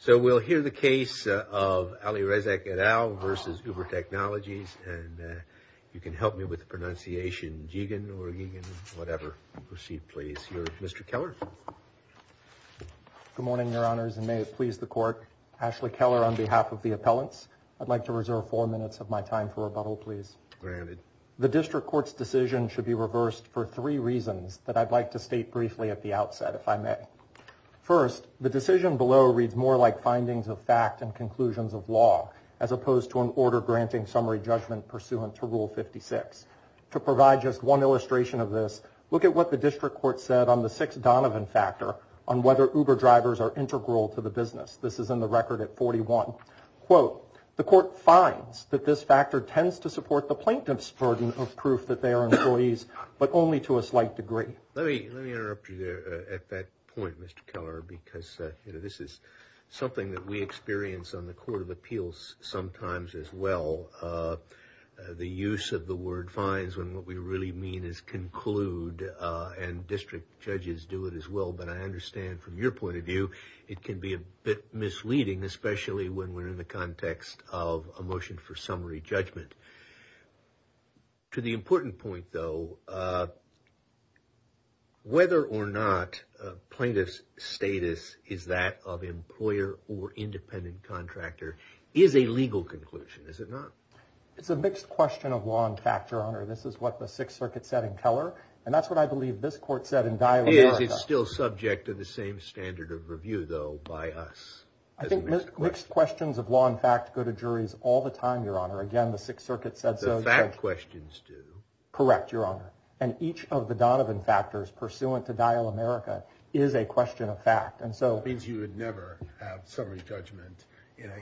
So we'll hear the case of Ali Rezak et al. versus Uber Technologies and you can help me with the pronunciation Jeegan or whatever. Proceed please. Here's Mr. Keller. Good morning your honors and may it please the court. Ashley Keller on behalf of the appellants. I'd like to reserve four minutes of my time for rebuttal please. Granted. The district court's decision should be reversed for three reasons that I'd like to state briefly at the outset if I may. First the decision below reads more like findings of fact and conclusions of law as opposed to an order granting summary judgment pursuant to rule 56. To provide just one illustration of this look at what the district court said on the six Donovan factor on whether Uber drivers are integral to the business. This is in the record at 41. Quote the court finds that this factor tends to support the plaintiff's burden of proof that they are employees but only to a slight degree. Let me interrupt you there at that point Mr. Keller because you know this is something that we experience on the Court of Appeals sometimes as well. The use of the word finds when what we really mean is conclude and district judges do it as well but I understand from your point of view it can be a bit misleading especially when we're in the context of a motion for summary judgment. To the important point though whether or not plaintiff's status is that of employer or independent contractor is a legal conclusion is it not? It's a mixed question of law and factor honor this is what the Sixth Circuit said in Keller and that's what I believe this court said in Dyer. It's still subject to the same standard of review though by us. I think mixed questions of law and fact go to juries all the time your honor again the Sixth Circuit said so. The fact questions do. Correct your honor and each of the Donovan factors pursuant to Dial America is a question of fact and so. Means you would never have summary judgment you know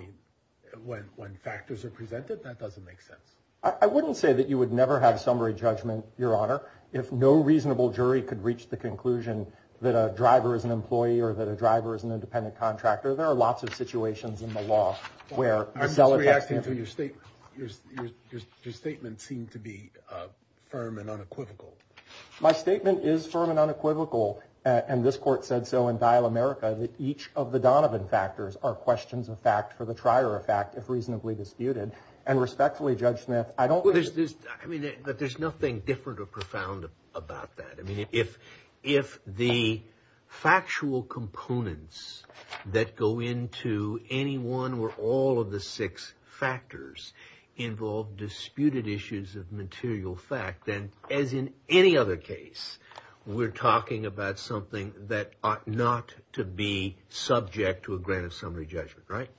when when factors are presented that doesn't make sense. I wouldn't say that you would never have summary judgment your honor if no reasonable jury could reach the conclusion that a driver is an employee or that a driver is an independent contractor. There are lots of situations in the law where your statement seemed to be firm and unequivocal. My statement is firm and unequivocal and this court said so in Dial America that each of the Donovan factors are questions of fact for the trier of fact if reasonably disputed and respectfully Judge Smith I don't. There's nothing different or that go into any one or all of the six factors involved disputed issues of material fact and as in any other case we're talking about something that ought not to be subject to a grant of summary judgment right.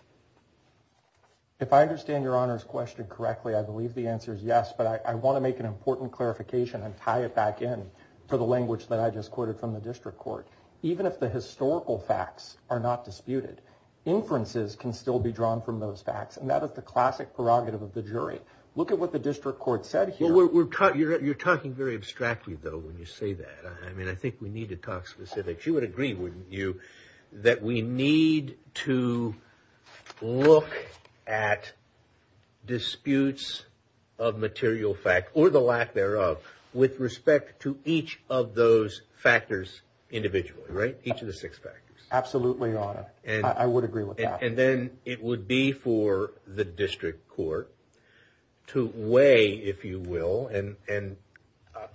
If I understand your honors question correctly I believe the answer is yes but I want to make an important clarification and tie it back in for the language that I just quoted from the district court. Even if the historical facts are not disputed inferences can still be drawn from those facts and that is the classic prerogative of the jury. Look at what the district court said here. We're taught you're talking very abstractly though when you say that I mean I think we need to talk specific. You would agree wouldn't you that we need to look at disputes of material fact or the lack thereof with respect to each of those factors individually right. Each of the six factors. Absolutely your honor and I would agree with that. And then it would be for the district court to weigh if you will and and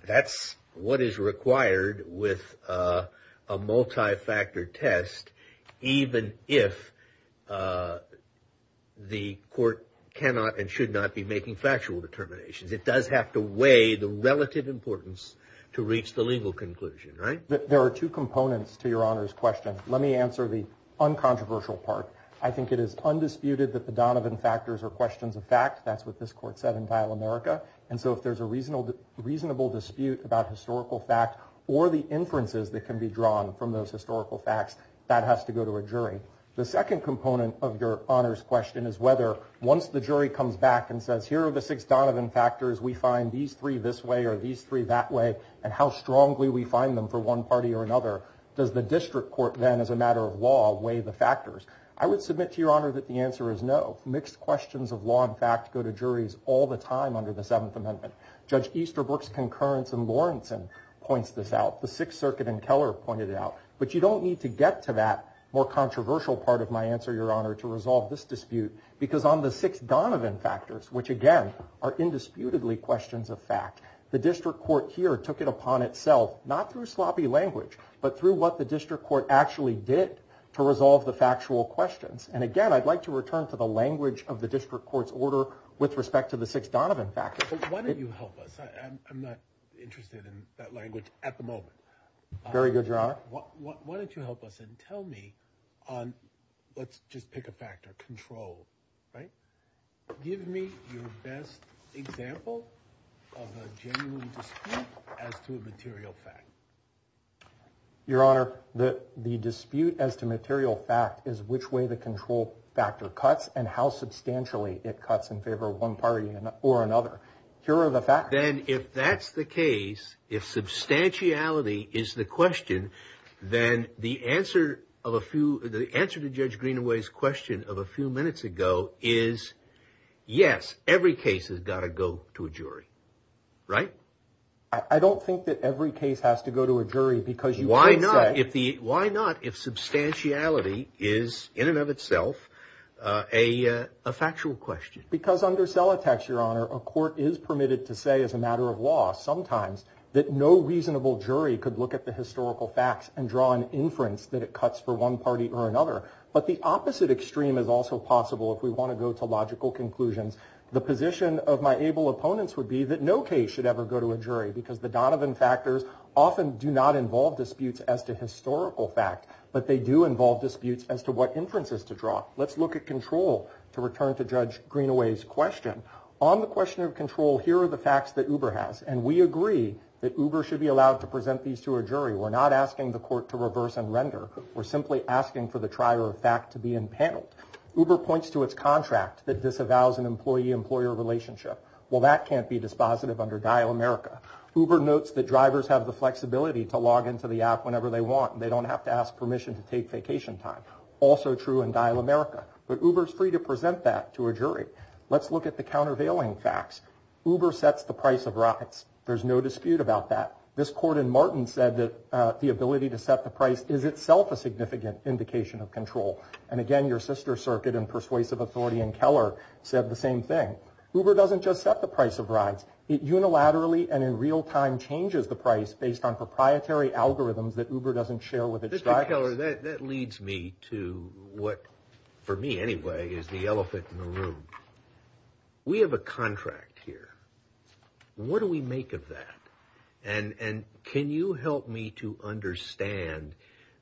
that's what is required with a multi-factor test even if the court cannot and should not be making factual determinations. It does have to to reach the legal conclusion right. There are two components to your honors question. Let me answer the uncontroversial part. I think it is undisputed that the Donovan factors are questions of fact. That's what this court said in Title America and so if there's a reasonable dispute about historical fact or the inferences that can be drawn from those historical facts that has to go to a jury. The second component of your honors question is whether once the jury comes back and says here are the six Donovan factors we find these three this way or these three that way and how strongly we find them for one party or another. Does the district court then as a matter of law weigh the factors. I would submit to your honor that the answer is no. Mixed questions of law and fact go to juries all the time under the Seventh Amendment. Judge Easterbrook's concurrence and Lawrenson points this out. The Sixth Circuit and Keller pointed it out. But you don't need to get to that more controversial part of my answer your honor to resolve this dispute because on the six Donovan factors which again are indisputably questions of fact the district court here took it upon itself not through sloppy language but through what the district court actually did to resolve the factual questions and again I'd like to return to the language of the district court's order with respect to the six Donovan factors. Why don't you help us? I'm not interested in that language at the moment. Very good your honor. Why don't you help us and tell me on let's just pick a factor control right give me your best example of a genuine dispute as to a material fact. Your honor that the dispute as to material fact is which way the control factor cuts and how substantially it cuts in favor of one party or another. Here are the factors. Then if that's the case if substantiality is the question then the answer of a few the answer to Judge Greenaway's question of a few minutes ago is yes every case has got to go to a jury right? I don't think that every case has to go to a jury because you why not if the why not if substantiality is in and of itself a factual question. Because under Celotax your honor a court is permitted to say as a matter of law sometimes that no reasonable jury could look at the historical facts and draw an inference that it cuts for one party or another. But the opposite extreme is also possible if we want to go to logical conclusions. The position of my able opponents would be that no case should ever go to a jury because the Donovan factors often do not involve disputes as to historical fact but they do involve disputes as to what inferences to draw. Let's look at control to return to Judge Greenaway's question. On the question of control here are the facts that Uber has and we agree that Uber should be allowed to present these to a jury. We're not asking the court to reverse and render. We're simply asking for the trier-of-fact to be impaneled. Uber points to its contract that disavows an employee-employer relationship. Well that can't be dispositive under Dial America. Uber notes that drivers have the flexibility to log into the app whenever they want. They don't have to ask permission to take vacation time. Also true in Dial America but Uber is free to present that to a jury. Let's look at the countervailing facts. Uber sets the price of rides. There's no dispute about that. This court in Martin said that the ability to set the price is itself a significant indication of control and again your sister circuit and persuasive authority in Keller said the same thing. Uber doesn't just set the price of rides. It unilaterally and in real time changes the price based on proprietary algorithms that Uber doesn't share with its drivers. That leads me to what for me anyway is the elephant in the room. We have a contract here. What do we make of that and and can you help me to understand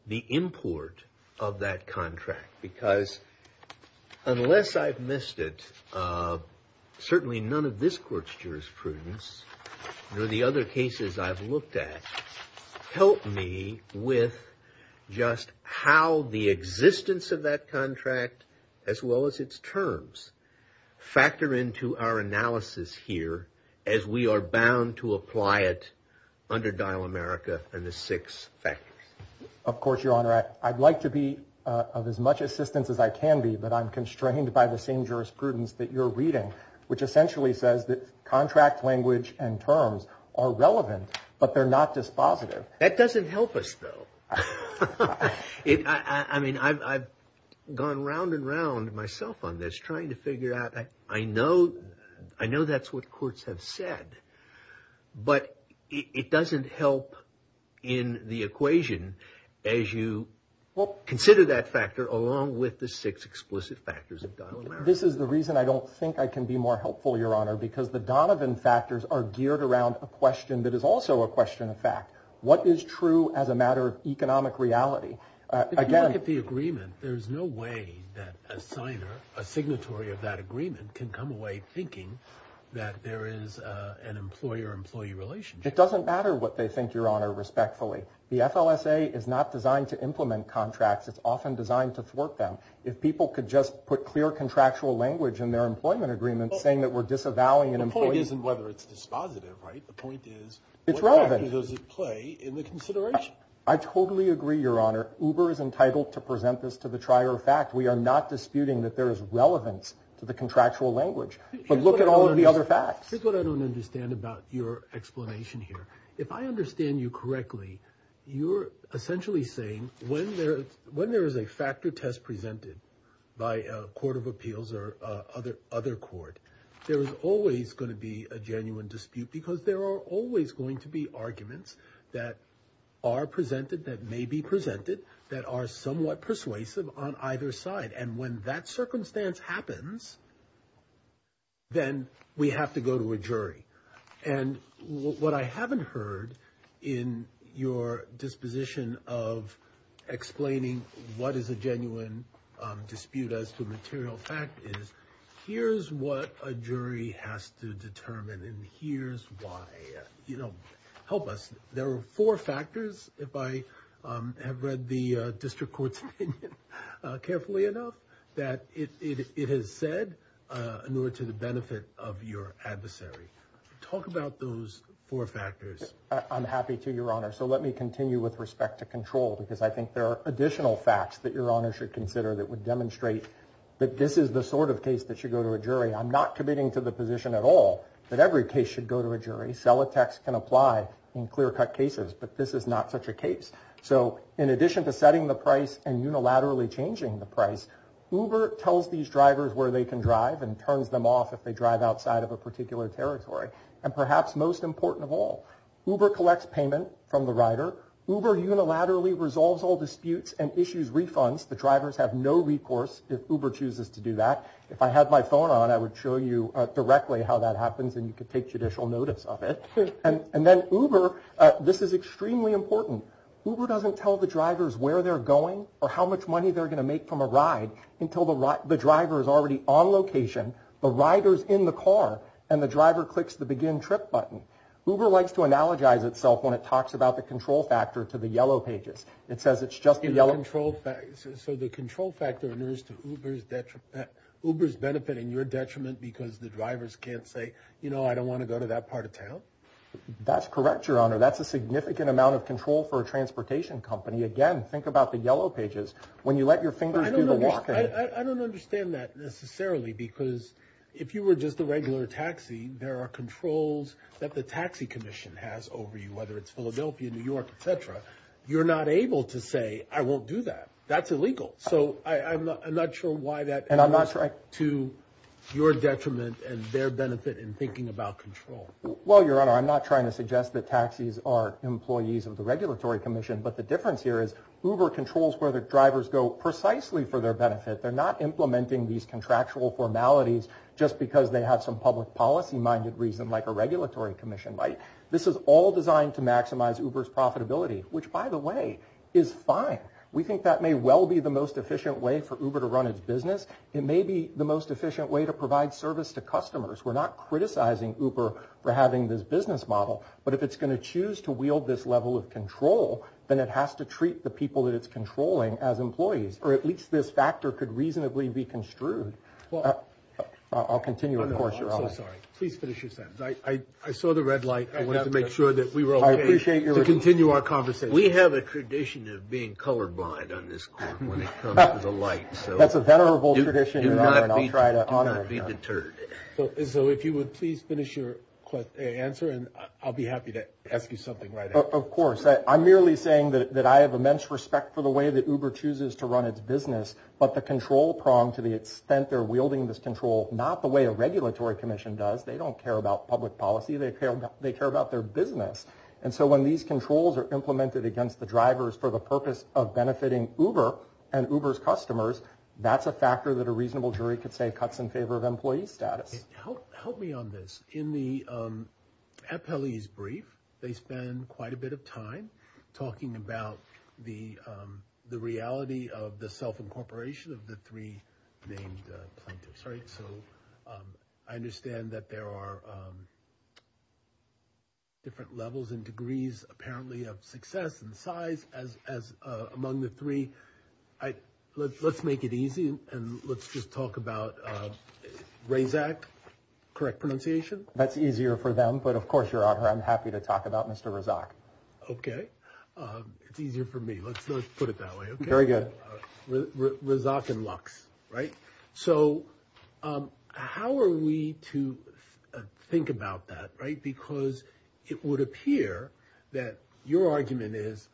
the import of that contract because unless I've missed it certainly none of this court's jurisprudence nor the other cases I've looked at help me with just how the existence of that contract as well as its terms factor into our analysis here as we are bound to apply it under Dial America and the six factors. Of course your honor I'd like to be of as much assistance as I can be but I'm constrained by the same jurisprudence that you're reading which essentially says that contract language and terms are relevant but they're not dispositive. That doesn't help us though. I mean I've gone round and round myself on this trying to figure out I know I know that's what courts have said but it doesn't help in the equation as you consider that factor along with the six explicit factors of Dial America. This is the reason I don't think I can be more helpful your honor because the Donovan factors are geared around a question that is also a question of fact. What is true as a matter of economic reality? If you look at the agreement there's no way that a signer, a signatory of that agreement can come away thinking that there is an employer employee relationship. It doesn't matter what they think your honor respectfully. The FLSA is not designed to implement contracts. It's often designed to thwart them. If people could just put clear contractual language in their employment agreement saying that we're disavowing an employee. The point isn't whether it's dispositive right? The point is what factor does it play in the consideration? I totally agree your honor. Uber is entitled to present this to the trier of fact. We are not disputing that there is relevance to the contractual language but look at all of the other facts. Here's what I don't understand about your explanation here. If I understand you correctly you're essentially saying when there when there is a factor test presented by a court of appeals or other other court there is always going to be a genuine dispute because there are always going to be arguments that are presented that may be presented that are somewhat persuasive on either side and when that circumstance happens then we have to go to a jury and what I haven't heard in your disposition of explaining what is a genuine dispute as to material fact is here's what a jury has to determine and here's why you know help us there are four factors if I have read the district courts carefully enough that it has said in order to the benefit of your adversary. Talk about those four factors. I'm happy to your honor so let me continue with respect to control because I think there are additional facts that your honor should consider that would demonstrate that this is the sort of case that you go to a jury. I'm not committing to the position at all that every case should go to a jury. Sell a text can apply in clear-cut cases but this is not such a case. So in addition to setting the price and unilaterally changing the price Uber tells these drivers where they can drive and turns them off if they drive outside of a particular territory and perhaps most important of all Uber collects payment from the rider. Uber unilaterally resolves all disputes and issues refunds the drivers have no recourse if Uber chooses to do that. If I had my phone on I would show you directly how that happens and you could take judicial notice of it and and then Uber this is extremely important. Uber doesn't tell the drivers where they're going or how much money they're gonna make from a ride until the driver is already on location the riders in the car and the driver clicks the begin trip button. Uber likes to analogize itself when it talks about the control factor to the yellow pages. It says it's just the yellow. So the control factor is to Uber's benefit in your detriment because the drivers can't say you know I don't want to go to that part of town? That's correct your honor that's a significant amount of control for a transportation company. Again think about the yellow pages when you let your fingers do the walking. I don't understand that necessarily because if you were just a regular taxi there are controls that the Taxi Commission has over you whether it's Philadelphia, New York, etc. You're not able to say I won't do that. That's illegal. So I'm not sure why that and I'm not sure to your detriment and their benefit in thinking about control. Well your honor I'm not trying to suggest that taxis are employees of the Regulatory Commission but the difference here is Uber controls where the drivers go precisely for their benefit. They're not implementing these contractual formalities just because they have some public policy minded reason like a Regulatory Commission. This is all designed to maximize Uber's way is fine. We think that may well be the most efficient way for Uber to run its business. It may be the most efficient way to provide service to customers. We're not criticizing Uber for having this business model but if it's going to choose to wield this level of control then it has to treat the people that it's controlling as employees or at least this factor could reasonably be construed. I'll continue of course your honor. Please finish your sentence. I saw the red tradition of being colorblind on this court when it comes to the light. That's a venerable tradition your honor and I'll try to honor that. Do not be deterred. So if you would please finish your answer and I'll be happy to ask you something right after. Of course I'm merely saying that I have immense respect for the way that Uber chooses to run its business but the control prong to the extent they're wielding this control not the way a Regulatory Commission does. They don't care about public policy. They care about their business and so when these controls are implemented against the drivers for the purpose of benefiting Uber and Uber's customers that's a factor that a reasonable jury could say cuts in favor of employee status. Help me on this. In the appellee's brief they spend quite a bit of time talking about the the reality of the self-incorporation of the three named plaintiffs right. So I understand that there are different levels and degrees apparently of success and size as among the three. Let's make it easy and let's just talk about Razak. Correct pronunciation? That's easier for them but of course your honor I'm happy to talk about Mr. Razak. Okay it's easier for me. Let's put it that way. Very good. Razak and Lux right. So how are we to think about that right because it would appear that your argument is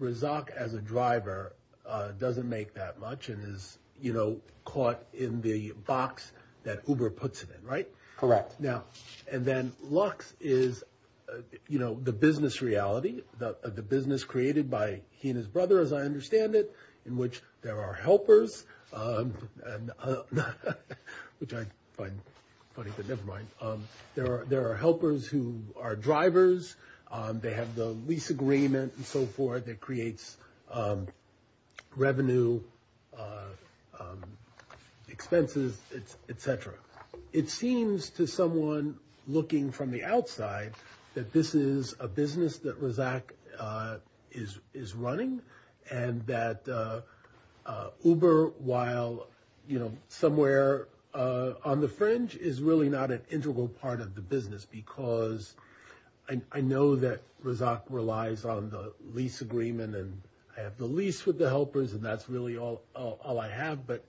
Razak as a driver doesn't make that much and is you know caught in the box that Uber puts it in right. Correct. Now and then Lux is you know the business reality the business created by he and his brother as I understand it in which there are helpers. Which I find funny but never mind. There are there are helpers who are drivers. They have the lease agreement and so forth that creates revenue expenses etc. It seems to someone looking from the outside that this is a Uber while you know somewhere on the fringe is really not an integral part of the business because I know that Razak relies on the lease agreement and I have the lease with the helpers and that's really all all I have but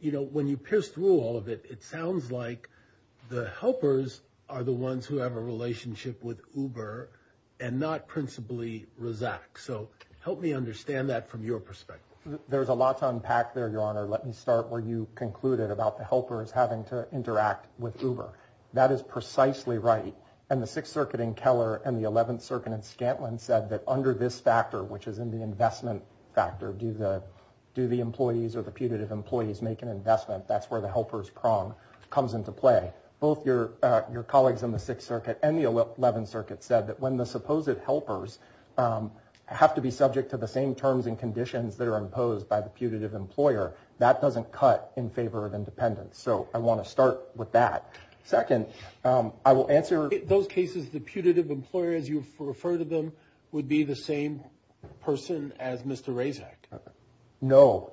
you know when you pierce through all of it it sounds like the helpers are the ones who have a relationship with Uber and not principally Razak. So help me understand that from your perspective. There's a lot to unpack there your honor. Let me start where you concluded about the helpers having to interact with Uber. That is precisely right and the Sixth Circuit in Keller and the Eleventh Circuit in Scantlin said that under this factor which is in the investment factor do the do the employees or the putative employees make an investment. That's where the helpers prong comes into play. Both your your colleagues in the Sixth Circuit and the Eleventh Circuit said that when the supposed helpers have to be subject to the same terms and conditions that are imposed by the putative employer that doesn't cut in favor of independence. So I want to start with that. Second I will answer those cases the putative employer as you refer to them would be the same person as Mr. Razak. No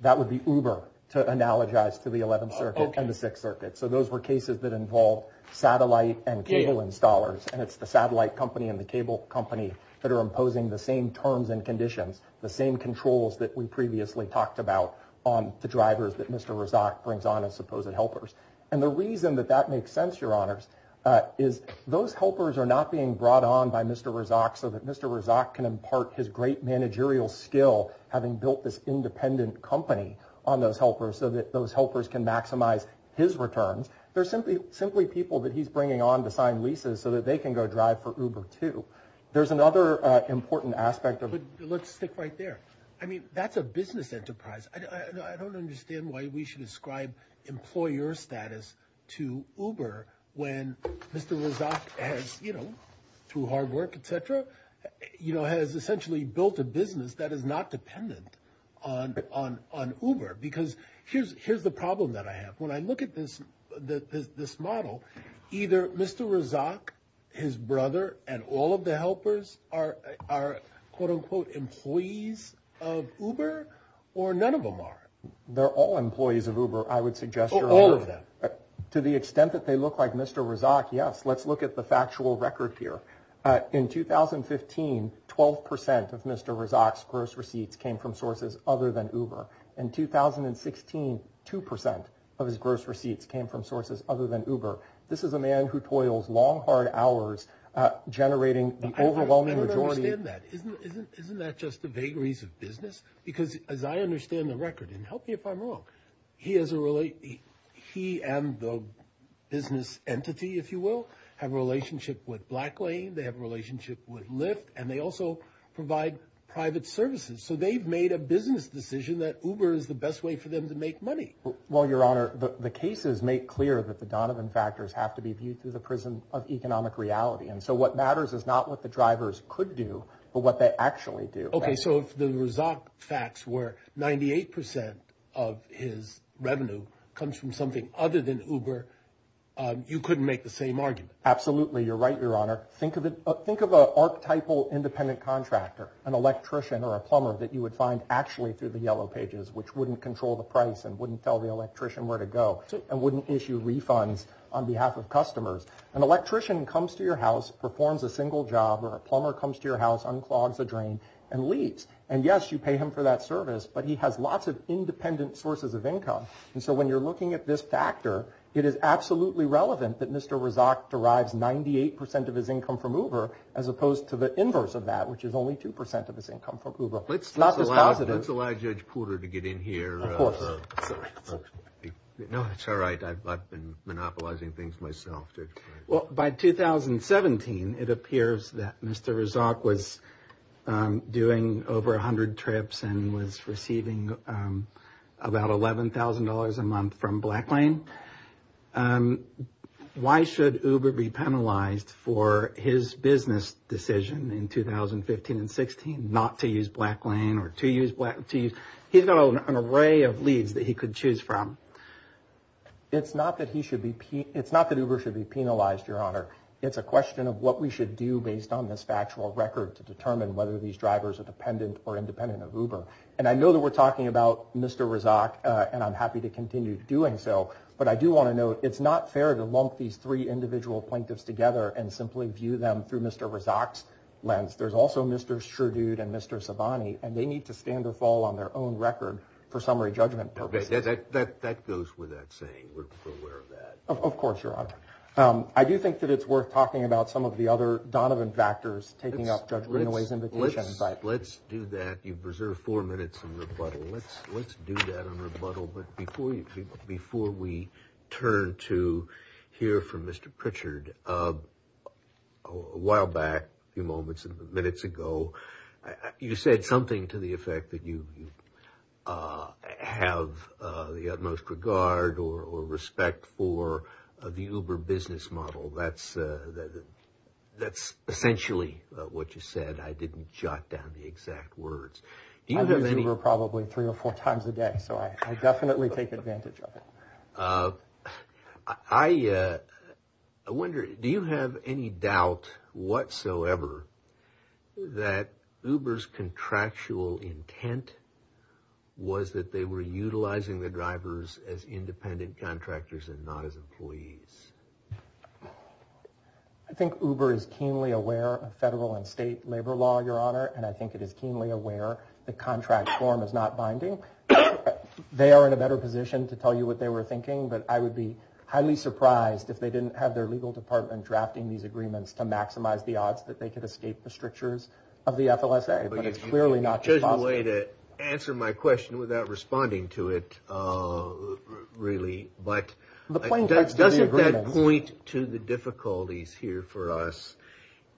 that would be Uber to analogize to the Eleventh Circuit and the Sixth Circuit. So those were cases that involved satellite and cable installers and it's the satellite company and the terms and conditions the same controls that we previously talked about on the drivers that Mr. Razak brings on as supposed helpers. And the reason that that makes sense your honors is those helpers are not being brought on by Mr. Razak so that Mr. Razak can impart his great managerial skill having built this independent company on those helpers so that those helpers can maximize his returns. They're simply simply people that he's bringing on to sign leases so that they can go drive for Uber too. There's another important aspect of it. Let's stick right there. I mean that's a business enterprise. I don't understand why we should ascribe employer status to Uber when Mr. Razak has you know through hard work etc you know has essentially built a business that is not dependent on on on Uber because here's here's the problem that I have when I look at this this model either Mr. Razak his brother and all of the helpers are are quote unquote employees of Uber or none of them are. They're all employees of Uber I would suggest. All of them. To the extent that they look like Mr. Razak yes let's look at the factual record here. In 2015 12% of Mr. Razak's gross receipts came from sources other than Uber. In 2016 2% of his gross receipts came from sources other than Uber. This is a man who toils long hard hours generating the overwhelming majority. I don't understand that. Isn't isn't isn't that just the vagaries of business? Because as I understand the record and help me if I'm wrong he has a really he and the business entity if you will have a relationship with BlackLane they have a relationship with Lyft and they also provide private services so they've made a business decision that Uber is the best way for them to make money. Well your honor the cases make clear that the Donovan factors have to be viewed through the prism of economic reality and so what matters is not what the drivers could do but what they actually do. Okay so if the Razak facts were 98% of his revenue comes from something other than Uber you couldn't make the same argument. Absolutely you're right your honor. Think of it think of a archetypal independent contractor an electrician or a plumber that you would find actually through the yellow pages which wouldn't control the price and wouldn't tell the electrician where to go and wouldn't issue refunds on behalf of customers. An electrician comes to your house performs a single job or a plumber comes to your house unclogs a drain and leaves and yes you pay him for that service but he has lots of independent sources of income and so when you're looking at this factor it is absolutely relevant that Mr. Razak derives 98% of his income from Uber as opposed to the inverse of that which is only 2% of his income from Uber. Let's let's allow Judge Porter to get in here. No it's alright I've been monopolizing things myself. Well by 2017 it appears that Mr. Razak was doing over a hundred trips and was receiving about $11,000 a month from BlackLane. Why should Uber be penalized for his business decision in 2015 and 16 not to use BlackLane or to use BlackLane? He's got an array of leads that he could choose from. It's not that he should be it's not that Uber should be penalized your honor. It's a question of what we should do based on this factual record to determine whether these drivers are dependent or independent of Uber and I know that we're talking about Mr. Razak and I'm happy to continue doing so but I do want to note it's not fair to lump these three individual plaintiffs together and simply view them through Mr. Razak's lens. There's also Mr. Sherdood and Mr. Sabani and they need to stand or fall on their own record for summary judgment purposes. Okay that that that goes with that saying we're aware of that. Of course your honor. I do think that it's worth talking about some of the other Donovan factors taking up Judge Greenaway's invitation. Let's let's do that you've reserved four minutes in rebuttal. Let's let's do that on rebuttal but before you before we turn to hear from Mr. Pritchard a while back a few moments and minutes ago you said something to the effect that you have the utmost regard or respect for the Uber business model that's that's essentially what you said I didn't jot down the exact words. I use Uber probably three or four times a day so I I wonder do you have any doubt whatsoever that Uber's contractual intent was that they were utilizing the drivers as independent contractors and not as employees? I think Uber is keenly aware of federal and state labor law your honor and I think it is keenly aware the contract form is not binding. They are in a better position to tell you what they were thinking but I would be highly surprised if they didn't have their legal department drafting these agreements to maximize the odds that they could escape the strictures of the FLSA but it's clearly not possible. You chose the way to answer my question without responding to it really but doesn't that point to the difficulties here for us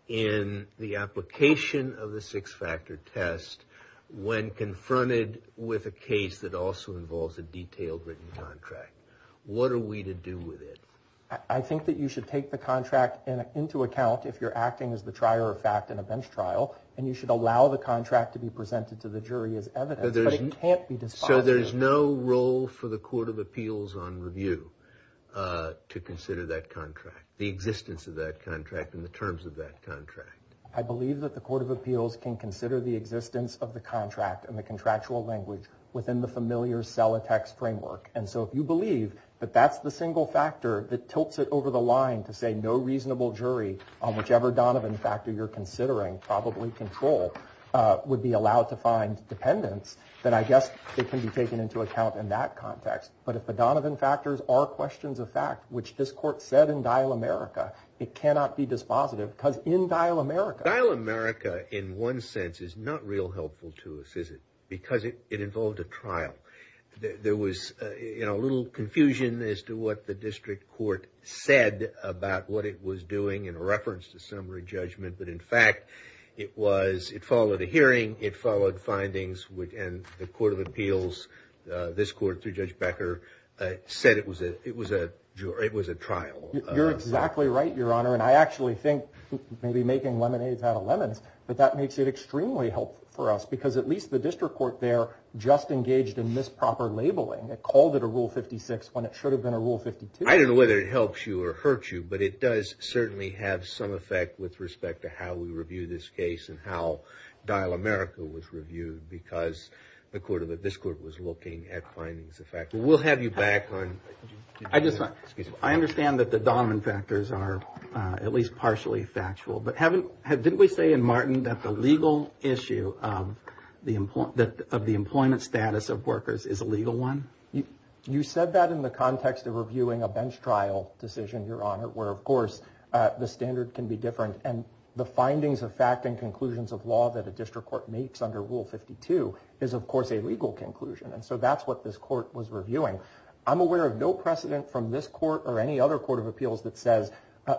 in the application of the six-factor test when confronted with a case that also involves a detailed written contract what are we to do with it? I think that you should take the contract into account if you're acting as the trier-of-fact in a bench trial and you should allow the contract to be presented to the jury as evidence but it can't be despised. So there's no role for the Court of Appeals on review to consider that contract the existence of that contract and the terms of that contract? I believe that the Court of Appeals can consider the existence of the contract and the contractual language within the Miller-Selatex framework and so if you believe that that's the single factor that tilts it over the line to say no reasonable jury on whichever Donovan factor you're considering probably control would be allowed to find dependents then I guess it can be taken into account in that context but if the Donovan factors are questions of fact which this court said in Dial America it cannot be dispositive because in Dial America. Dial America in one sense is not real helpful to us is it? Because it involved a trial. There was you know a little confusion as to what the district court said about what it was doing in a reference to summary judgment but in fact it was it followed a hearing it followed findings which and the Court of Appeals this court through Judge Becker said it was it it was a jury it was a trial. You're exactly right your honor and I actually think maybe making lemonade out of lemons but that makes it extremely helpful for us because at least the district court there just engaged in misproper labeling it called it a rule 56 when it should have been a rule 52. I don't know whether it helps you or hurts you but it does certainly have some effect with respect to how we review this case and how Dial America was reviewed because the court of it this court was looking at findings of fact. We'll have you back on. I just I understand that the Donovan factors are at least partially factual but haven't had didn't we say in Martin that the legal issue of the employment that of the employment status of workers is a legal one? You said that in the context of reviewing a bench trial decision your honor where of course the standard can be different and the findings of fact and conclusions of law that a district court makes under rule 52 is of course a legal conclusion and so that's what this court was reviewing. I'm aware of no precedent from this court or any other Court of Appeals that says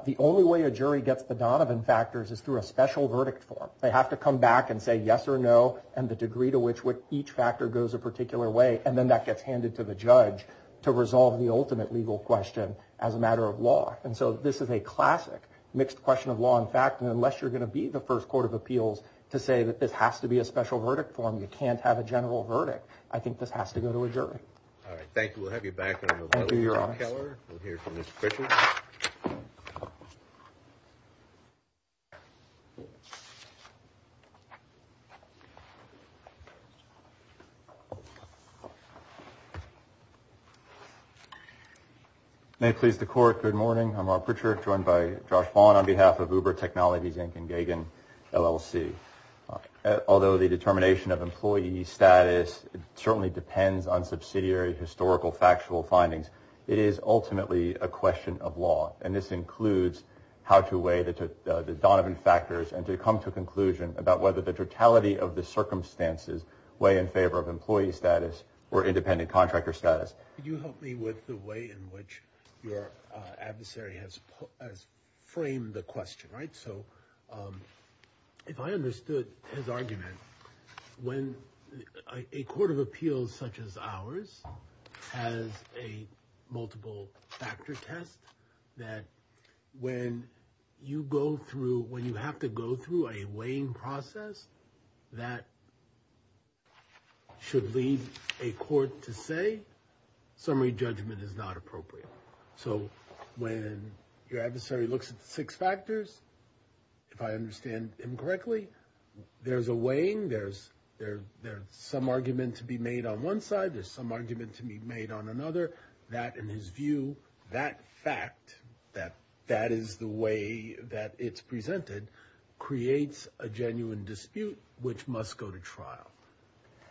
the only way a jury gets the Donovan factors is through a special verdict form. They have to come back and say yes or no and the degree to which what each factor goes a particular way and then that gets handed to the judge to resolve the ultimate legal question as a matter of law and so this is a classic mixed question of law and fact and unless you're gonna be the first Court of Appeals to say that this has to be a special verdict form you can't have a general verdict. I think this has to go to a jury. Thank you. We'll have you back. May it please the court, good morning. I'm Rob Pritchard joined by Josh Vaughn on behalf of Uber Technologies Inc. and Gagin LLC. Although the determination of employee status certainly depends on subsidiary historical factual findings it is ultimately a question of law and this includes how to weigh the Donovan factors and to come to a conclusion about whether the totality of the circumstances weigh in favor of employee status or independent contractor status. Could you help me with the way in which your adversary has framed the question right so if I understood his argument when a Court of Appeals such as ours has a multiple factor test that when you go through when you have to go through a weighing process that should leave a court to say summary judgment is not appropriate so when your adversary looks at the six factors if I understand incorrectly there's a weighing there's there there's some argument to be made on one side there's some argument to be made on another that in his view that fact that that is the way that it's presented creates a genuine dispute which must go to trial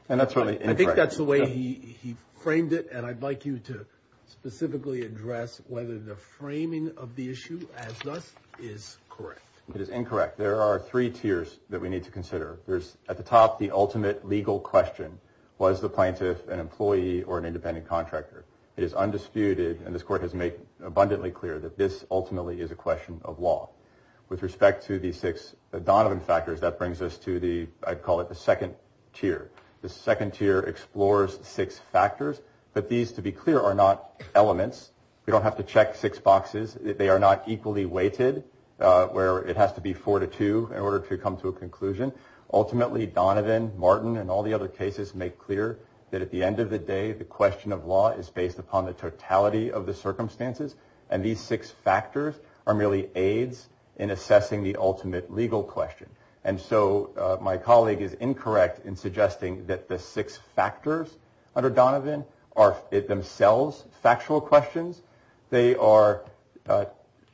and that's really I think that's the way he he framed it and I'd like you to specifically address whether the framing of the issue as thus is correct. It is incorrect there are three tiers that we need to consider there's at the top the ultimate legal question was the plaintiff an employee or an independent contractor it is undisputed and this court has made abundantly clear that this ultimately is a question of law with respect to the six Donovan factors that brings us to the I'd call it the second tier the second tier explores six factors but these to be clear are not elements we don't have to check six boxes they are not equally weighted where it has to be four to two in order to come to a conclusion ultimately Donovan Martin and all the other cases make clear that at the end of the day the question of law is based upon the totality of the circumstances and these six factors are merely aids in assessing the ultimate legal question and so my colleague is incorrect in suggesting that the six factors under Donovan are it themselves factual questions they are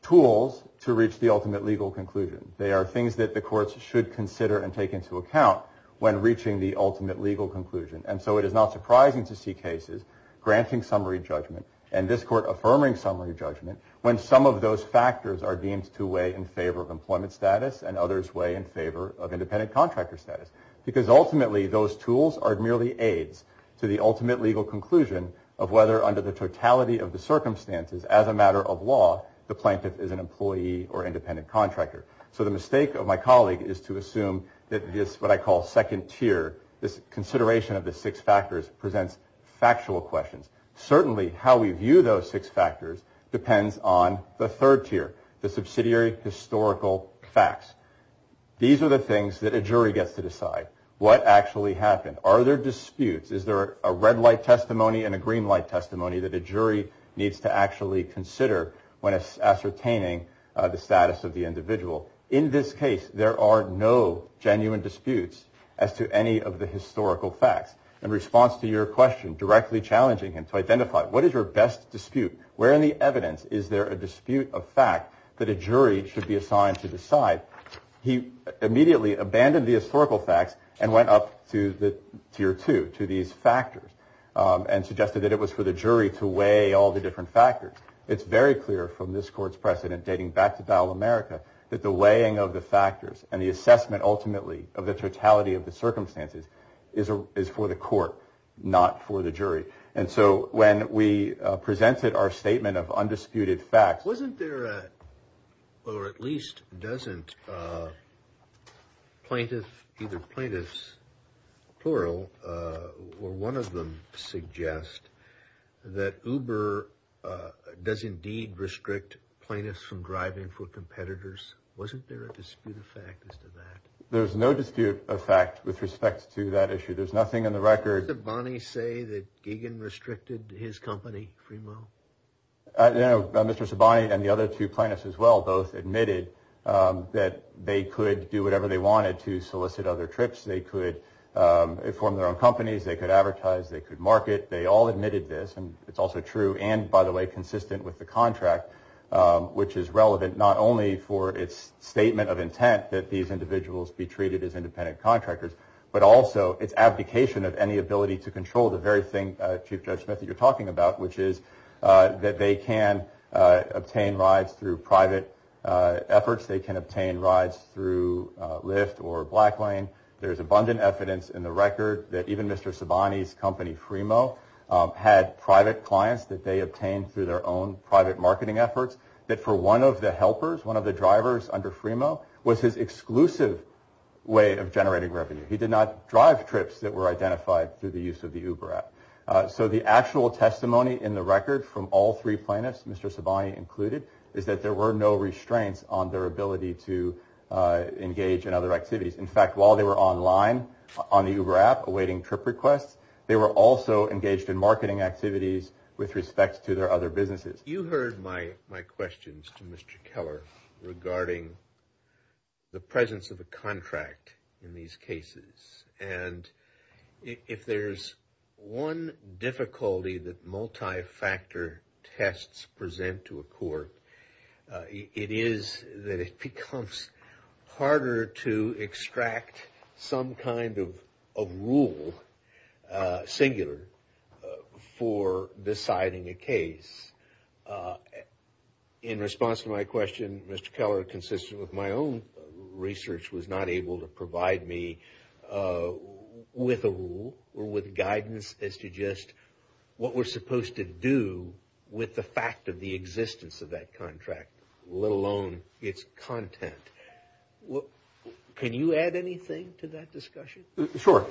tools to reach the ultimate legal conclusion they are things that the courts should consider and take into account when reaching the ultimate legal conclusion and so it is not surprising to see cases granting summary judgment and this court affirming summary judgment when some of those factors are deemed to weigh in favor of employment status and others weigh in favor of independent contractor status because ultimately those tools are merely aids to the ultimate legal conclusion of whether under the totality of the circumstances as a matter of law the plaintiff is an employee or independent contractor so the mistake of my colleague is to assume that this what I call second tier this consideration of the six factors presents factual questions certainly how we view those six factors depends on the third tier the subsidiary historical facts these are the things that a jury gets to are there disputes is there a red light testimony and a green light testimony that a jury needs to actually consider when it's ascertaining the status of the individual in this case there are no genuine disputes as to any of the historical facts in response to your question directly challenging him to identify what is your best dispute where in the evidence is there a dispute of fact that a jury should be assigned to decide he immediately abandoned the historical facts and went up to the tier two to these factors and suggested that it was for the jury to weigh all the different factors it's very clear from this court's precedent dating back to battle America that the weighing of the factors and the assessment ultimately of the totality of the circumstances is a is for the court not for the jury and so when we presented our statement of undisputed fact wasn't there or at least doesn't plaintiff either plaintiffs plural or one of them suggest that uber does indeed restrict plaintiffs from driving for competitors wasn't there a dispute of fact as to that there's no dispute of fact with respect to that issue there's nothing in record of money say that Gagan restricted his company Mr. Sabani and the other two plaintiffs as well both admitted that they could do whatever they wanted to solicit other trips they could form their own companies they could advertise they could market they all admitted this and it's also true and by the way consistent with the contract which is relevant not only for its statement of intent that these individuals be treated as independent contractors but also its abdication of any ability to control the very thing that you're talking about which is that they can obtain rides through private efforts they can obtain rides through lift or black line there's abundant evidence in the record that even Mr. Sabani's company Fremo had private clients that they obtained through their own private marketing efforts that for one of the helpers one of the drivers under Fremo was his exclusive way of generating revenue he did not drive trips that were identified through the use of the uber app so the actual testimony in the record from all three plaintiffs Mr. Sabani included is that there were no restraints on their ability to engage in other activities in fact while they were online on the uber app awaiting trip requests they were also engaged in marketing activities with respect to their other businesses you heard my my questions to Mr. Keller regarding the presence of a contract in these cases and if there's one difficulty that multi-factor tests present to a court it is that it becomes harder to extract some kind of a rule singular for deciding a case in response to my question Mr. Keller consistent with my own research was not able to provide me with a rule or with guidance as to just what we're supposed to do with the fact of the existence of that contract let alone its content what can you add anything to that discussion sure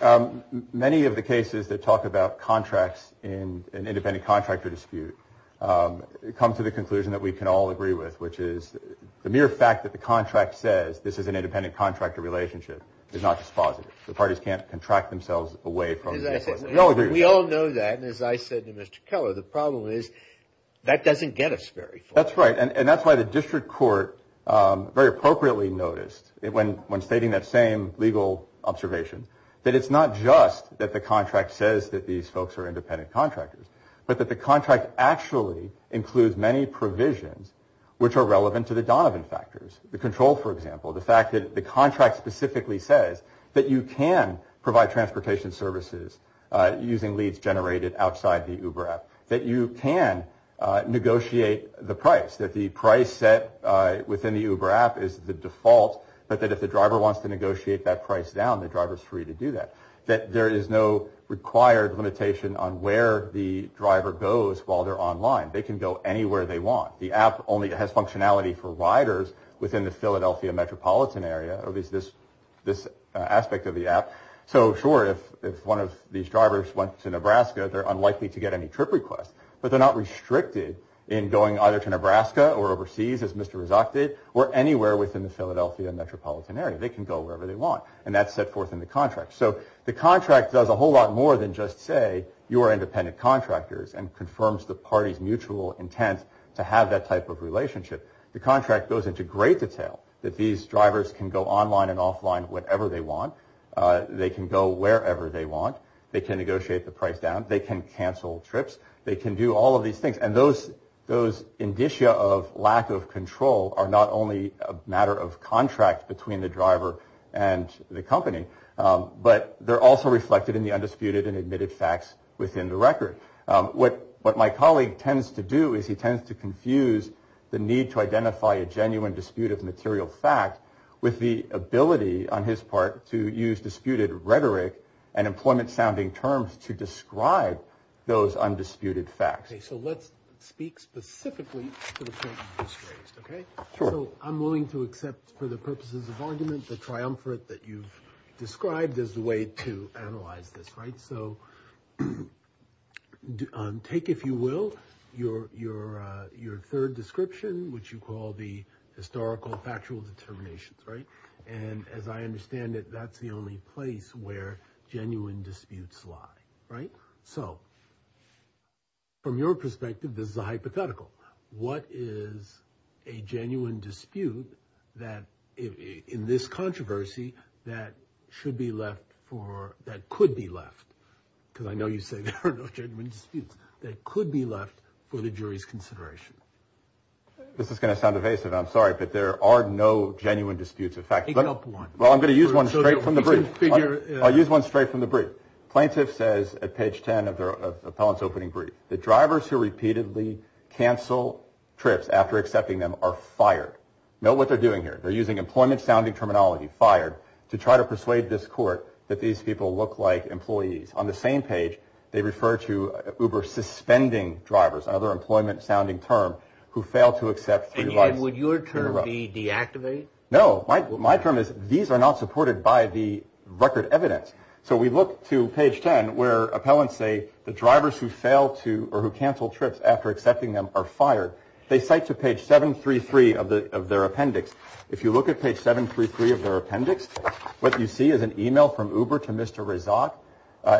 many of the cases that talk about contracts in an independent contractor dispute come to the conclusion that we can all agree with which is the mere fact that the contract says this is an independent contractor relationship is not just positive the parties can't contract themselves away from we all know that as I said to Mr. Keller the problem is that doesn't get us very that's right and that's why the district court very appropriately noticed it when when stating that same legal observation that it's not just that the contract says that these folks are which are relevant to the Donovan factors the control for example the fact that the contract specifically says that you can provide transportation services using leads generated outside the uber app that you can negotiate the price that the price set within the uber app is the default but that if the driver wants to negotiate that price down the drivers free to do that that there is no required limitation on where the driver goes while they're online they can go anywhere they want the app only has functionality for riders within the Philadelphia metropolitan area of is this this aspect of the app so sure if if one of these drivers went to Nebraska they're unlikely to get any trip request but they're not restricted in going either to Nebraska or overseas as Mr. is opted or anywhere within the Philadelphia metropolitan area they can go wherever they want and that's set forth in the contract so the contract does a whole lot more than just say you are independent contractors and confirms the party's mutual intent to have that type of relationship the contract goes into great detail that these drivers can go online and offline whatever they want they can go wherever they want they can negotiate the price down they can cancel trips they can do all of these things and those those indicia of lack of control are not only a matter of contract between the driver and the company but they're also reflected in the undisputed and admitted facts within the record what what my colleague tends to do is he tends to confuse the need to identify a genuine dispute of material fact with the ability on his part to use disputed rhetoric and employment sounding terms to describe those undisputed facts so let's speak specifically okay so I'm willing to accept for the purposes of argument the triumvirate that you've described as the to analyze this right so take if you will your your your third description which you call the historical factual determinations right and as I understand it that's the only place where genuine disputes lie right so from your perspective this is a hypothetical what is a genuine dispute that in this controversy that should be left for that could be left because I know you say that could be left for the jury's consideration this is gonna sound evasive I'm sorry but there are no genuine disputes in fact well I'm gonna use one straight from the brief I'll use one straight from the brief plaintiff says at page 10 of their appellant's opening brief the drivers who repeatedly cancel trips after accepting them are fired know what they're doing here they're using employment sounding terminology fired to try to persuade this court that these people look like employees on the same page they refer to uber suspending drivers other employment sounding term who fail to accept and would your term be deactivated no my term is these are not supported by the record evidence so we look to page 10 where appellants say the drivers who fail to or who cancel trips after accepting them are fired they cite to page 733 of the of their appendix if you look at page 733 of their appendix what you see is an email from uber to mr. result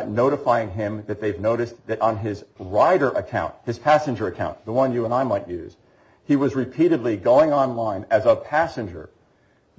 notifying him that they've noticed that on his rider account his passenger account the one you and I might use he was repeatedly going online as a passenger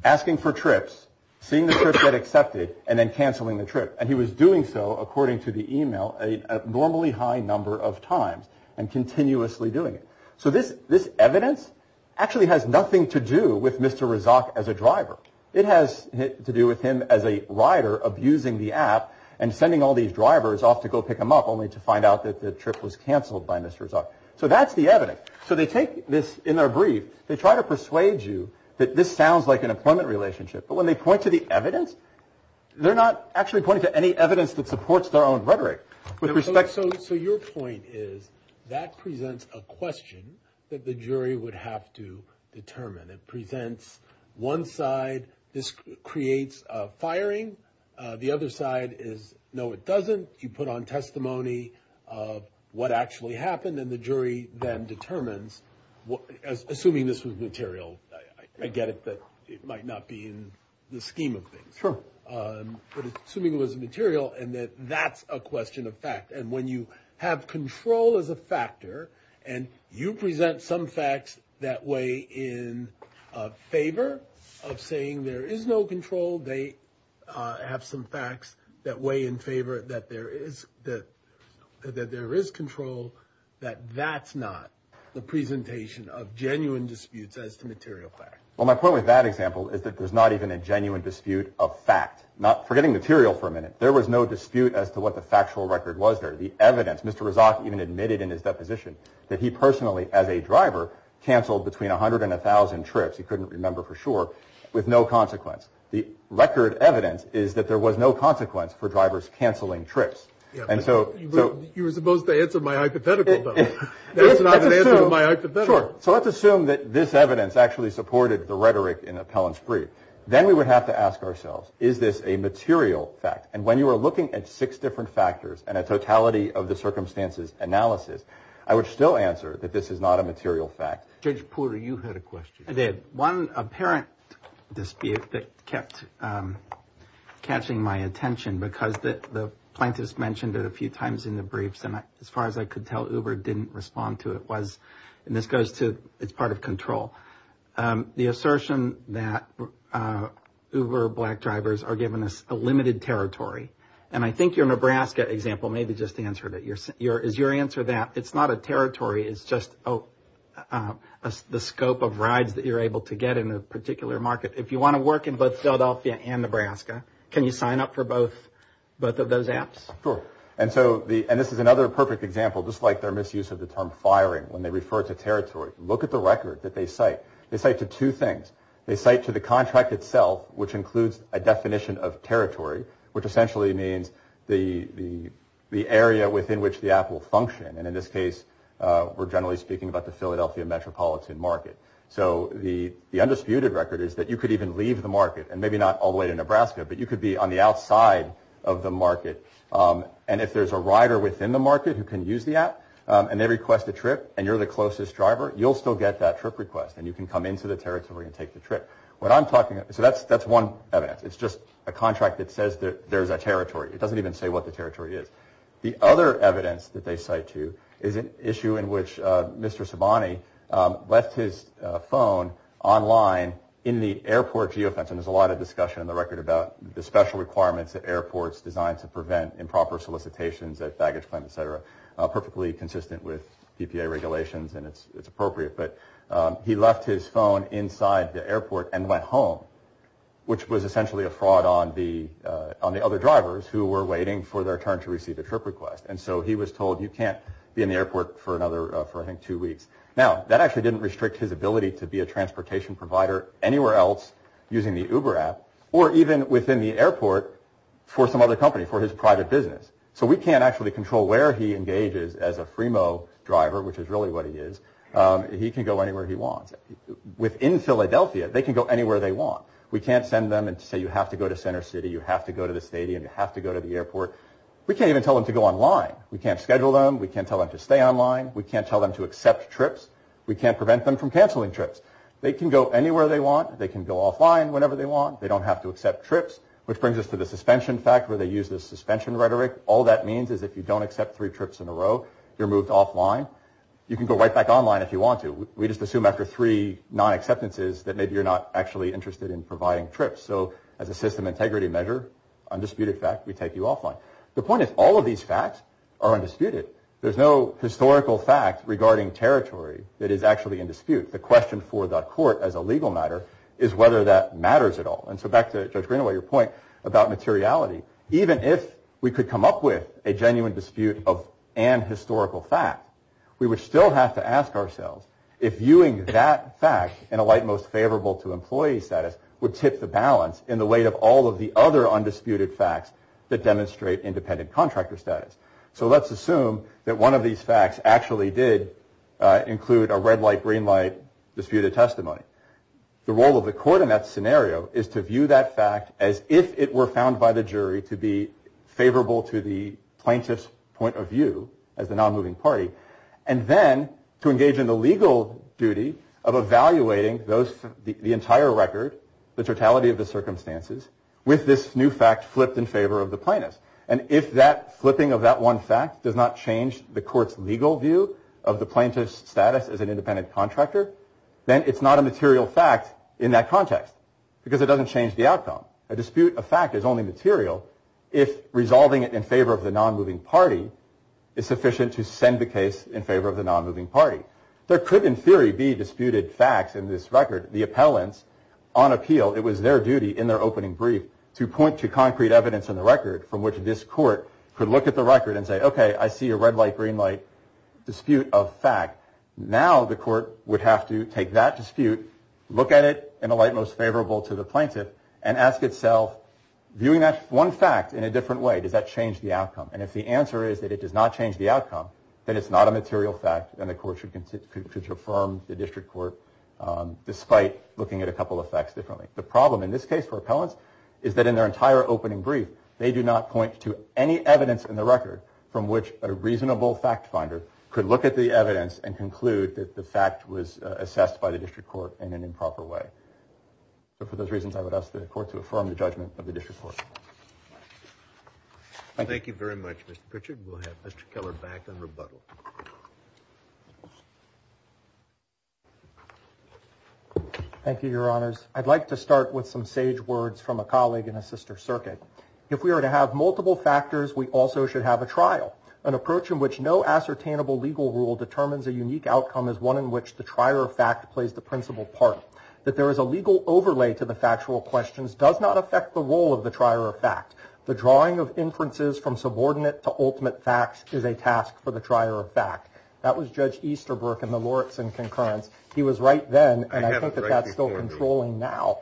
asking for trips seeing the trip get accepted and then canceling the trip and he was doing so according to the email a normally high number of times and continuously doing so this this evidence actually has nothing to do with mr. result as a driver it has to do with him as a rider abusing the app and sending all these drivers off to go pick him up only to find out that the trip was canceled by mr. result so that's the evidence so they take this in their brief they try to persuade you that this sounds like an employment relationship but when they point to the evidence they're not actually pointing to any evidence that supports their own rhetoric with respect so so your point is that presents a question that the jury would have to determine it presents one side this creates firing the other side is no it doesn't you put on testimony of what actually happened and the jury then determines what as assuming this was material I get it that it might not be in the scheme of things for assuming it was material and that that's a question of fact and when you have control as a you present some facts that way in favor of saying there is no control they have some facts that way in favor that there is that there is control that that's not the presentation of genuine disputes as to material fact well my point with that example is that there's not even a genuine dispute of fact not forgetting material for a minute there was no dispute as to what the factual record was there the evidence mr. result even admitted in his deposition that he personally as a driver canceled between a hundred and a thousand trips he couldn't remember for sure with no consequence the record evidence is that there was no consequence for drivers canceling trips and so you were supposed to answer my hypothetical so let's assume that this evidence actually supported the rhetoric in a pellets free then we would have to ask ourselves is this a material fact and when you are looking at six different factors and a answer that this is not a material fact did one apparent dispute that kept catching my attention because that the plaintiffs mentioned it a few times in the briefs and as far as I could tell uber didn't respond to it was and this goes to it's part of control the assertion that uber black drivers are given us a limited territory and I think your Nebraska example maybe just answered it your is your answer that it's not a territory is just the scope of rides that you're able to get in a particular market if you want to work in both Philadelphia and Nebraska can you sign up for both both of those apps for and so the and this is another perfect example just like their misuse of the term firing when they refer to territory look at the record that they say they say to two things they say to the contract itself which includes a within which the Apple function and in this case we're generally speaking about the Philadelphia metropolitan market so the the undisputed record is that you could even leave the market and maybe not all the way to Nebraska but you could be on the outside of the market and if there's a rider within the market who can use the app and they request a trip and you're the closest driver you'll still get that trip request and you can come into the territory and take the trip what I'm talking about so that's that's one evidence it's just a contract that says that there's a territory it doesn't even say what the other evidence that they say to you is an issue in which mr. Sabani left his phone online in the airport geofence and there's a lot of discussion in the record about the special requirements at airports designed to prevent improper solicitations at baggage claim etc perfectly consistent with PPA regulations and it's it's appropriate but he left his phone inside the airport and went home which was essentially a fraud on the on the other drivers who were waiting for their turn to receive a trip request and so he was told you can't be in the airport for another for him two weeks now that actually didn't restrict his ability to be a transportation provider anywhere else using the uber app or even within the airport for some other company for his private business so we can't actually control where he engages as a Fremo driver which is really what he is he can go anywhere he wants within Philadelphia they can go anywhere they want we can't send them and say you have to go to the airport we can't even tell them to go online we can't schedule them we can't tell them to stay online we can't tell them to accept trips we can't prevent them from canceling trips they can go anywhere they want they can go offline whenever they want they don't have to accept trips which brings us to the suspension fact where they use the suspension rhetoric all that means is if you don't accept three trips in a row you're moved offline you can go right back online if you want to we just assume after three non-acceptances that maybe you're not actually interested in providing trips so as a system integrity measure undisputed fact we take you offline the point is all of these facts are undisputed there's no historical fact regarding territory that is actually in dispute the question for the court as a legal matter is whether that matters at all and so back to your point about materiality even if we could come up with a genuine dispute of an historical fact we would still have to ask ourselves if viewing that fact in a light most favorable to employee status would tip the balance in the weight of all of the other undisputed facts that demonstrate independent contractor status so let's assume that one of these facts actually did include a red light green light disputed testimony the role of the court in that scenario is to view that fact as if it were found by the jury to be favorable to the plaintiff's point of view as a non-moving party and then to engage in the legal duty of evaluating those the entire record the totality of the circumstances with this new fact flipped in favor of the plaintiff and if that flipping of that one fact does not change the court's legal view of the plaintiff's status as an independent contractor then it's not a material fact in that context because it doesn't change the outcome a dispute a fact is only material if resolving it in favor of the non-moving party is a non-moving party there could in theory be disputed facts in this record the appellants on appeal it was their duty in their opening brief to point to concrete evidence in the record from which this court could look at the record and say okay I see a red light green light dispute of fact now the court would have to take that dispute look at it in a light most favorable to the plaintiff and ask itself viewing that one fact in a different way does that change the outcome and if the answer is that it does not change the court should confirm the district court despite looking at a couple of facts differently the problem in this case for appellants is that in their entire opening brief they do not point to any evidence in the record from which a reasonable fact finder could look at the evidence and conclude that the fact was assessed by the district court in an improper way but for those reasons I would ask the court to affirm the judgment of the district court thank you very much mr. Pritchard will have mr. Keller back on rebuttal thank you your honors I'd like to start with some sage words from a colleague in a sister circuit if we are to have multiple factors we also should have a trial an approach in which no ascertainable legal rule determines a unique outcome is one in which the trier of fact plays the principal part that there is a legal overlay to the factual questions does not affect the role of the trier of fact the drawing of inferences from subordinate to ultimate facts is a task for the trier of fact that was judge Easterbrook in the Loretson concurrence he was right then and I think that that's still controlling now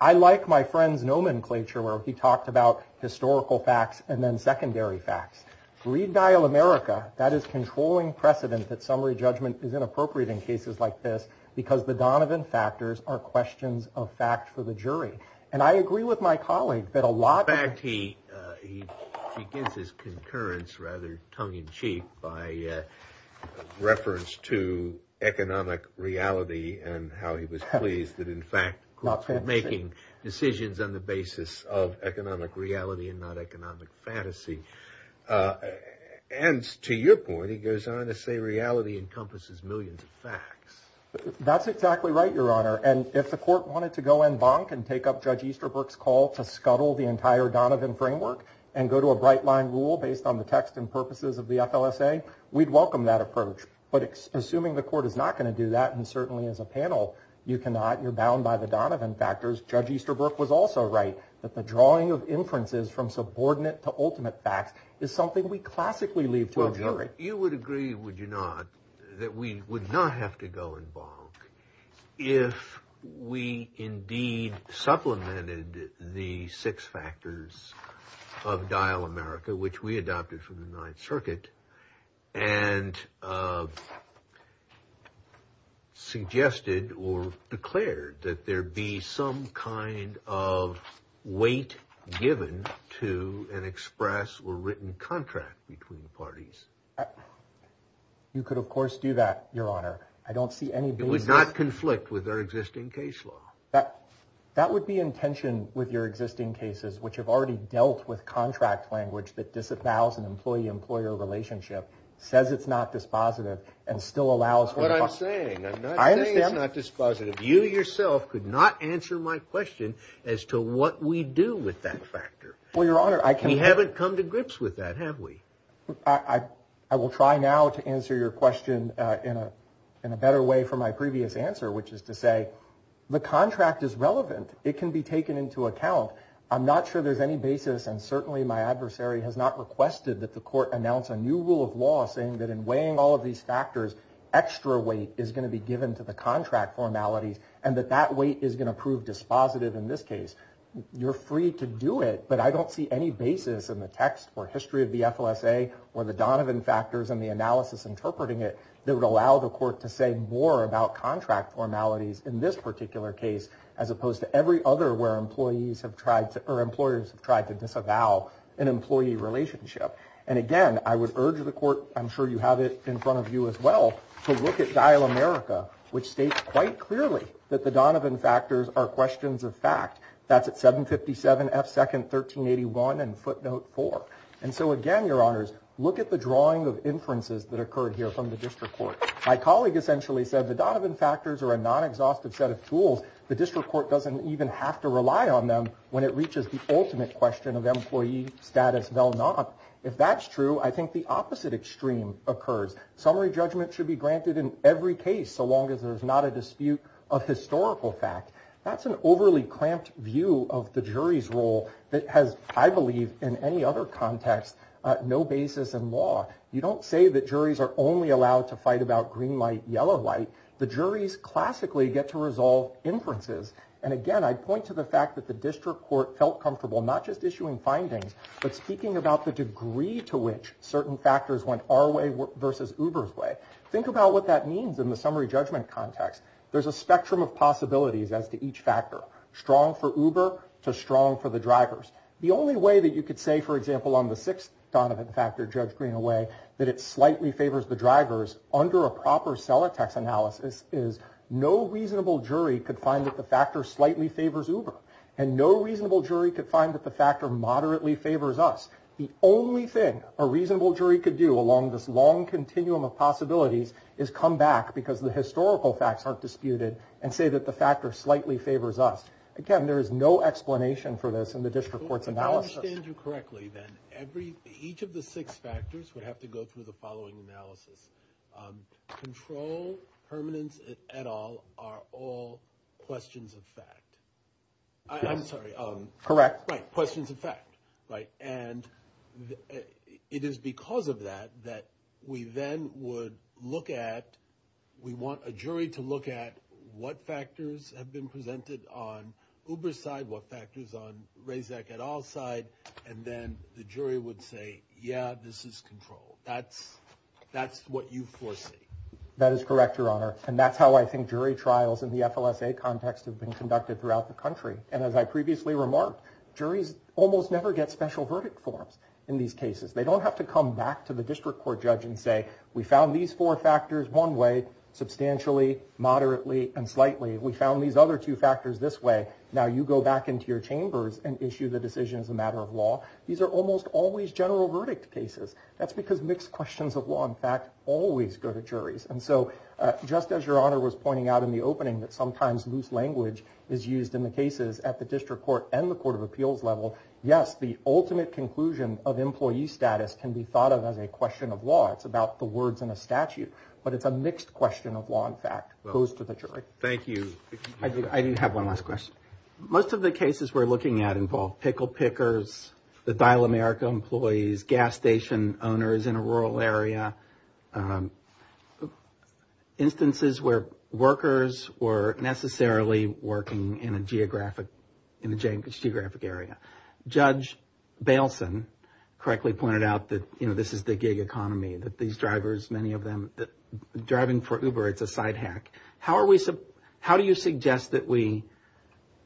I like my friends nomenclature where he talked about historical facts and then secondary facts read dial America that is controlling precedent that summary judgment is inappropriate in cases like this because the Donovan factors are questions of fact for the jury and I agree with my colleague that a lot back he he gives his concurrence rather tongue-in-cheek by reference to economic reality and how he was pleased that in fact not making decisions on the basis of economic reality and not economic fantasy and to your point he goes on to say reality encompasses millions of facts that's exactly right your honor and if the court wanted to go in bonk and take up judge Easterbrook's call to scuttle the entire Donovan framework and go to a bright line rule based on the text and purposes of the FLSA we'd welcome that approach but assuming the court is not going to do that and certainly as a panel you cannot you're bound by the Donovan factors judge Easterbrook was also right that the drawing of inferences from subordinate to ultimate facts is something we classically leave to a jury you would agree would you not that we would not have to go in bonk if we indeed supplemented the six factors of Dial America which we adopted from the Ninth Circuit and suggested or declared that there be some kind of weight given to an express or written contract between parties you could of course do that your honor I don't see any it was not conflict with our existing case law that that would be in tension with your existing cases which have already dealt with contract language that disavows an employee-employer relationship says it's not dispositive and still allows what I'm saying I understand not dispositive you yourself could not answer my question as to what we do with that factor well your honor I can we haven't come to grips with that have we I I will try now to answer your question in a in a better way for my previous answer which is to say the contract is relevant it can be taken into account I'm not sure there's any basis and certainly my adversary has not requested that the court announce a new rule of law saying that in weighing all of these factors extra weight is going to be given to the contract formalities and that that weight is going to prove dispositive in this case you're free to do it but I don't see any basis in the text or history of the FLSA or the Donovan factors and the analysis interpreting it that would allow the court to say more about contract formalities in this particular case as opposed to every other where employees have tried to or employers have tried to disavow an employee relationship and again I would urge the court I'm sure you have it in front of you as well to look at dial America which states quite clearly that the Donovan factors are questions of fact that's at 757 F second 1381 and footnote four and so again your honors look at the drawing of inferences that occurred here from the district court my colleague essentially said the Donovan factors are a non-exhaustive set of tools the district court doesn't even have to rely on them when it reaches the ultimate question of employee status well not if that's true I think the opposite extreme occurs summary judgment should be granted in every case so long as there's not a dispute of historical fact that's an overly cramped view of the jury's role that has I believe in any other context no basis in law you don't say that juries are only allowed to fight about green light yellow light the jury's classically get to resolve inferences and again I'd point to the fact that the district court felt comfortable not just issuing findings but speaking about the degree to which certain factors went our way versus Uber's way think about what that means in the summary judgment context there's a spectrum of possibilities as to each factor strong for uber to strong for the drivers the only way that you could say for example on the sixth Donovan factor judge green away that it slightly favors the drivers under a proper cell attacks analysis is no reasonable jury could find that the factor slightly favors uber and no reasonable jury could find that the factor moderately favors us the only thing a reasonable jury could do along this long continuum of possibilities is come back because the historical facts aren't disputed and say that the factor slightly favors us again there is no explanation for this in the district courts analysis correctly then every each of the six factors would have to go through the following analysis control permanence at all are all I'm sorry correct questions in fact right and it is because of that that we then would look at we want a jury to look at what factors have been presented on uber side what factors on raise that get all side and then the jury would say yeah this is control that's that's what you foresee that is correct your honor and that's how I think jury trials in the FLSA context have been conducted throughout the country and as I previously remarked juries almost never get special verdict forms in these cases they don't have to come back to the district court judge and say we found these four factors one way substantially moderately and slightly we found these other two factors this way now you go back into your chambers and issue the decision as a matter of law these are almost always general verdict cases that's because mixed questions of law in fact goes to the jury's and so just as your honor was pointing out in the opening that sometimes loose language is used in the cases at the district court and the Court of Appeals level yes the ultimate conclusion of employee status can be thought of as a question of law it's about the words in a statute but it's a mixed question of law in fact goes to the jury thank you I do have one last question most of the cases we're looking at involve pickle pickers the instances where workers were necessarily working in a geographic in the Jameish geographic area judge Baleson correctly pointed out that you know this is the gig economy that these drivers many of them that driving for uber it's a side hack how are we so how do you suggest that we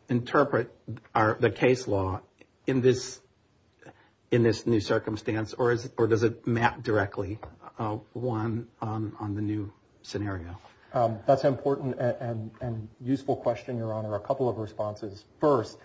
interpret our the case law in this in this new circumstance or is it or does it map directly one on the new scenario that's important and useful question your honor a couple of responses first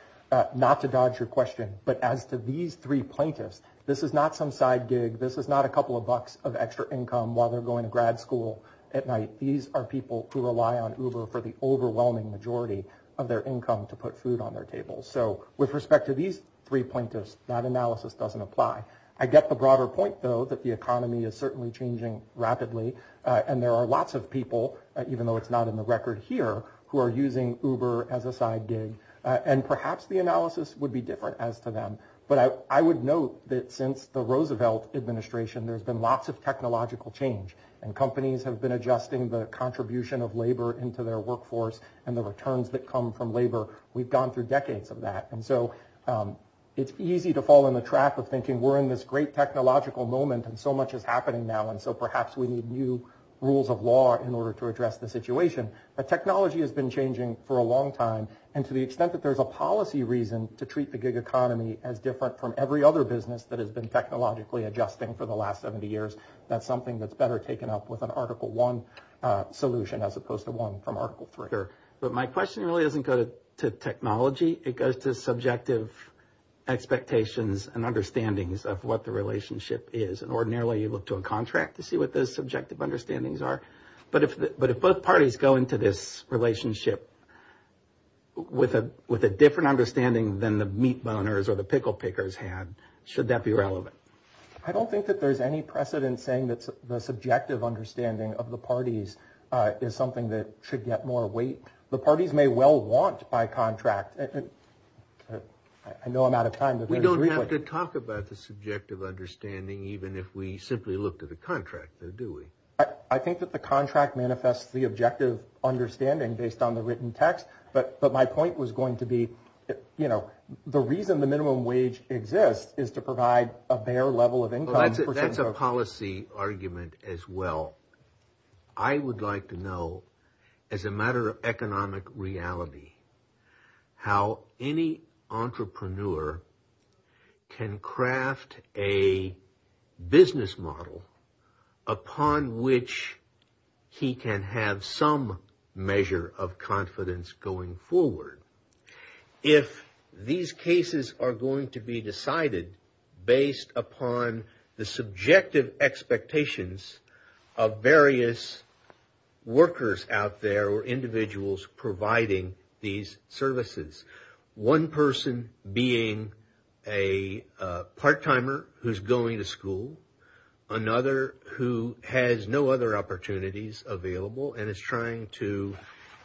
not to dodge your question but as to these three plaintiffs this is not some side gig this is not a couple of bucks of extra income while they're going to grad school at night these are people who rely on uber for the overwhelming majority of their income to put food on their table so with respect to these three plaintiffs that analysis doesn't apply I get the broader point though that the economy is certainly changing rapidly and there are lots of people even though it's not in the record here who are using uber as a side gig and perhaps the analysis would be different as to them but I would note that since the Roosevelt administration there's been lots of technological change and companies have been adjusting the contribution of labor into their workforce and the returns that come from labor we've gone through decades of that and so it's easy to fall in the trap of thinking we're in this great technological moment and so much is happening now and so perhaps we need new rules of law in order to address the situation but technology has been changing for a long time and to the extent that there's a policy reason to treat the gig economy as different from every other business that has been technologically adjusting for the last 70 years that's something that's better taken up with an article one solution as opposed to one from article three but my question really doesn't go to technology it goes to subjective expectations and the relationship is and ordinarily you look to a contract to see what those subjective understandings are but if but if both parties go into this relationship with a with a different understanding than the meat boners or the pickle pickers had should that be relevant I don't think that there's any precedent saying that the subjective understanding of the parties is something that should get more weight the parties may well want by contract and I know I'm out of time but we don't have to talk about the subjective understanding even if we simply look to the contractor do we I think that the contract manifests the objective understanding based on the written text but but my point was going to be you know the reason the minimum wage exists is to provide a bare level of income that's a policy argument as well I would like to know as a matter of practice if an entrepreneur can craft a business model upon which he can have some measure of confidence going forward if these cases are going to be decided based upon the subjective expectations of various workers out there or being a part-timer who's going to school another who has no other opportunities available and is trying to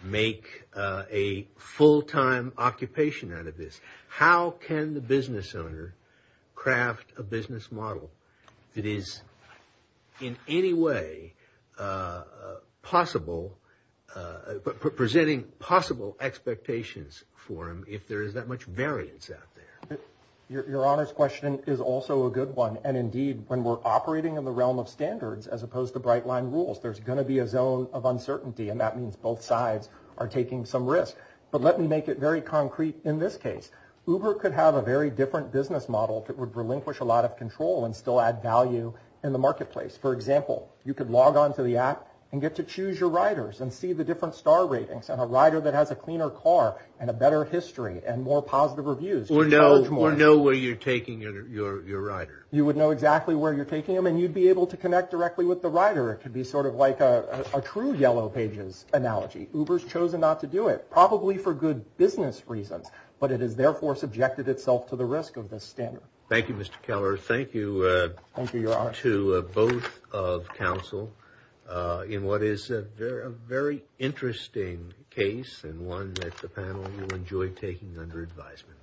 make a full-time occupation out of this how can the business owner craft a business model that is in any way possible but presenting possible expectations for him if there is that much variance out there your honors question is also a good one and indeed when we're operating in the realm of standards as opposed to bright line rules there's going to be a zone of uncertainty and that means both sides are taking some risk but let me make it very concrete in this case uber could have a very different business model that would relinquish a lot of control and still add value in the marketplace for example you could log on to the app and get to choose your riders and see the different star ratings and a rider that has a cleaner car and a better history and more positive reviews or no more know where you're taking your rider you would know exactly where you're taking them and you'd be able to connect directly with the rider it could be sort of like a true yellow pages analogy uber's chosen not to do it probably for good business reasons but it is therefore subjected itself to the risk of this standard thank you mr. Keller thank you thank you your honor to both of counsel in what is a very interesting case and one that the panel will enjoy taking under advisement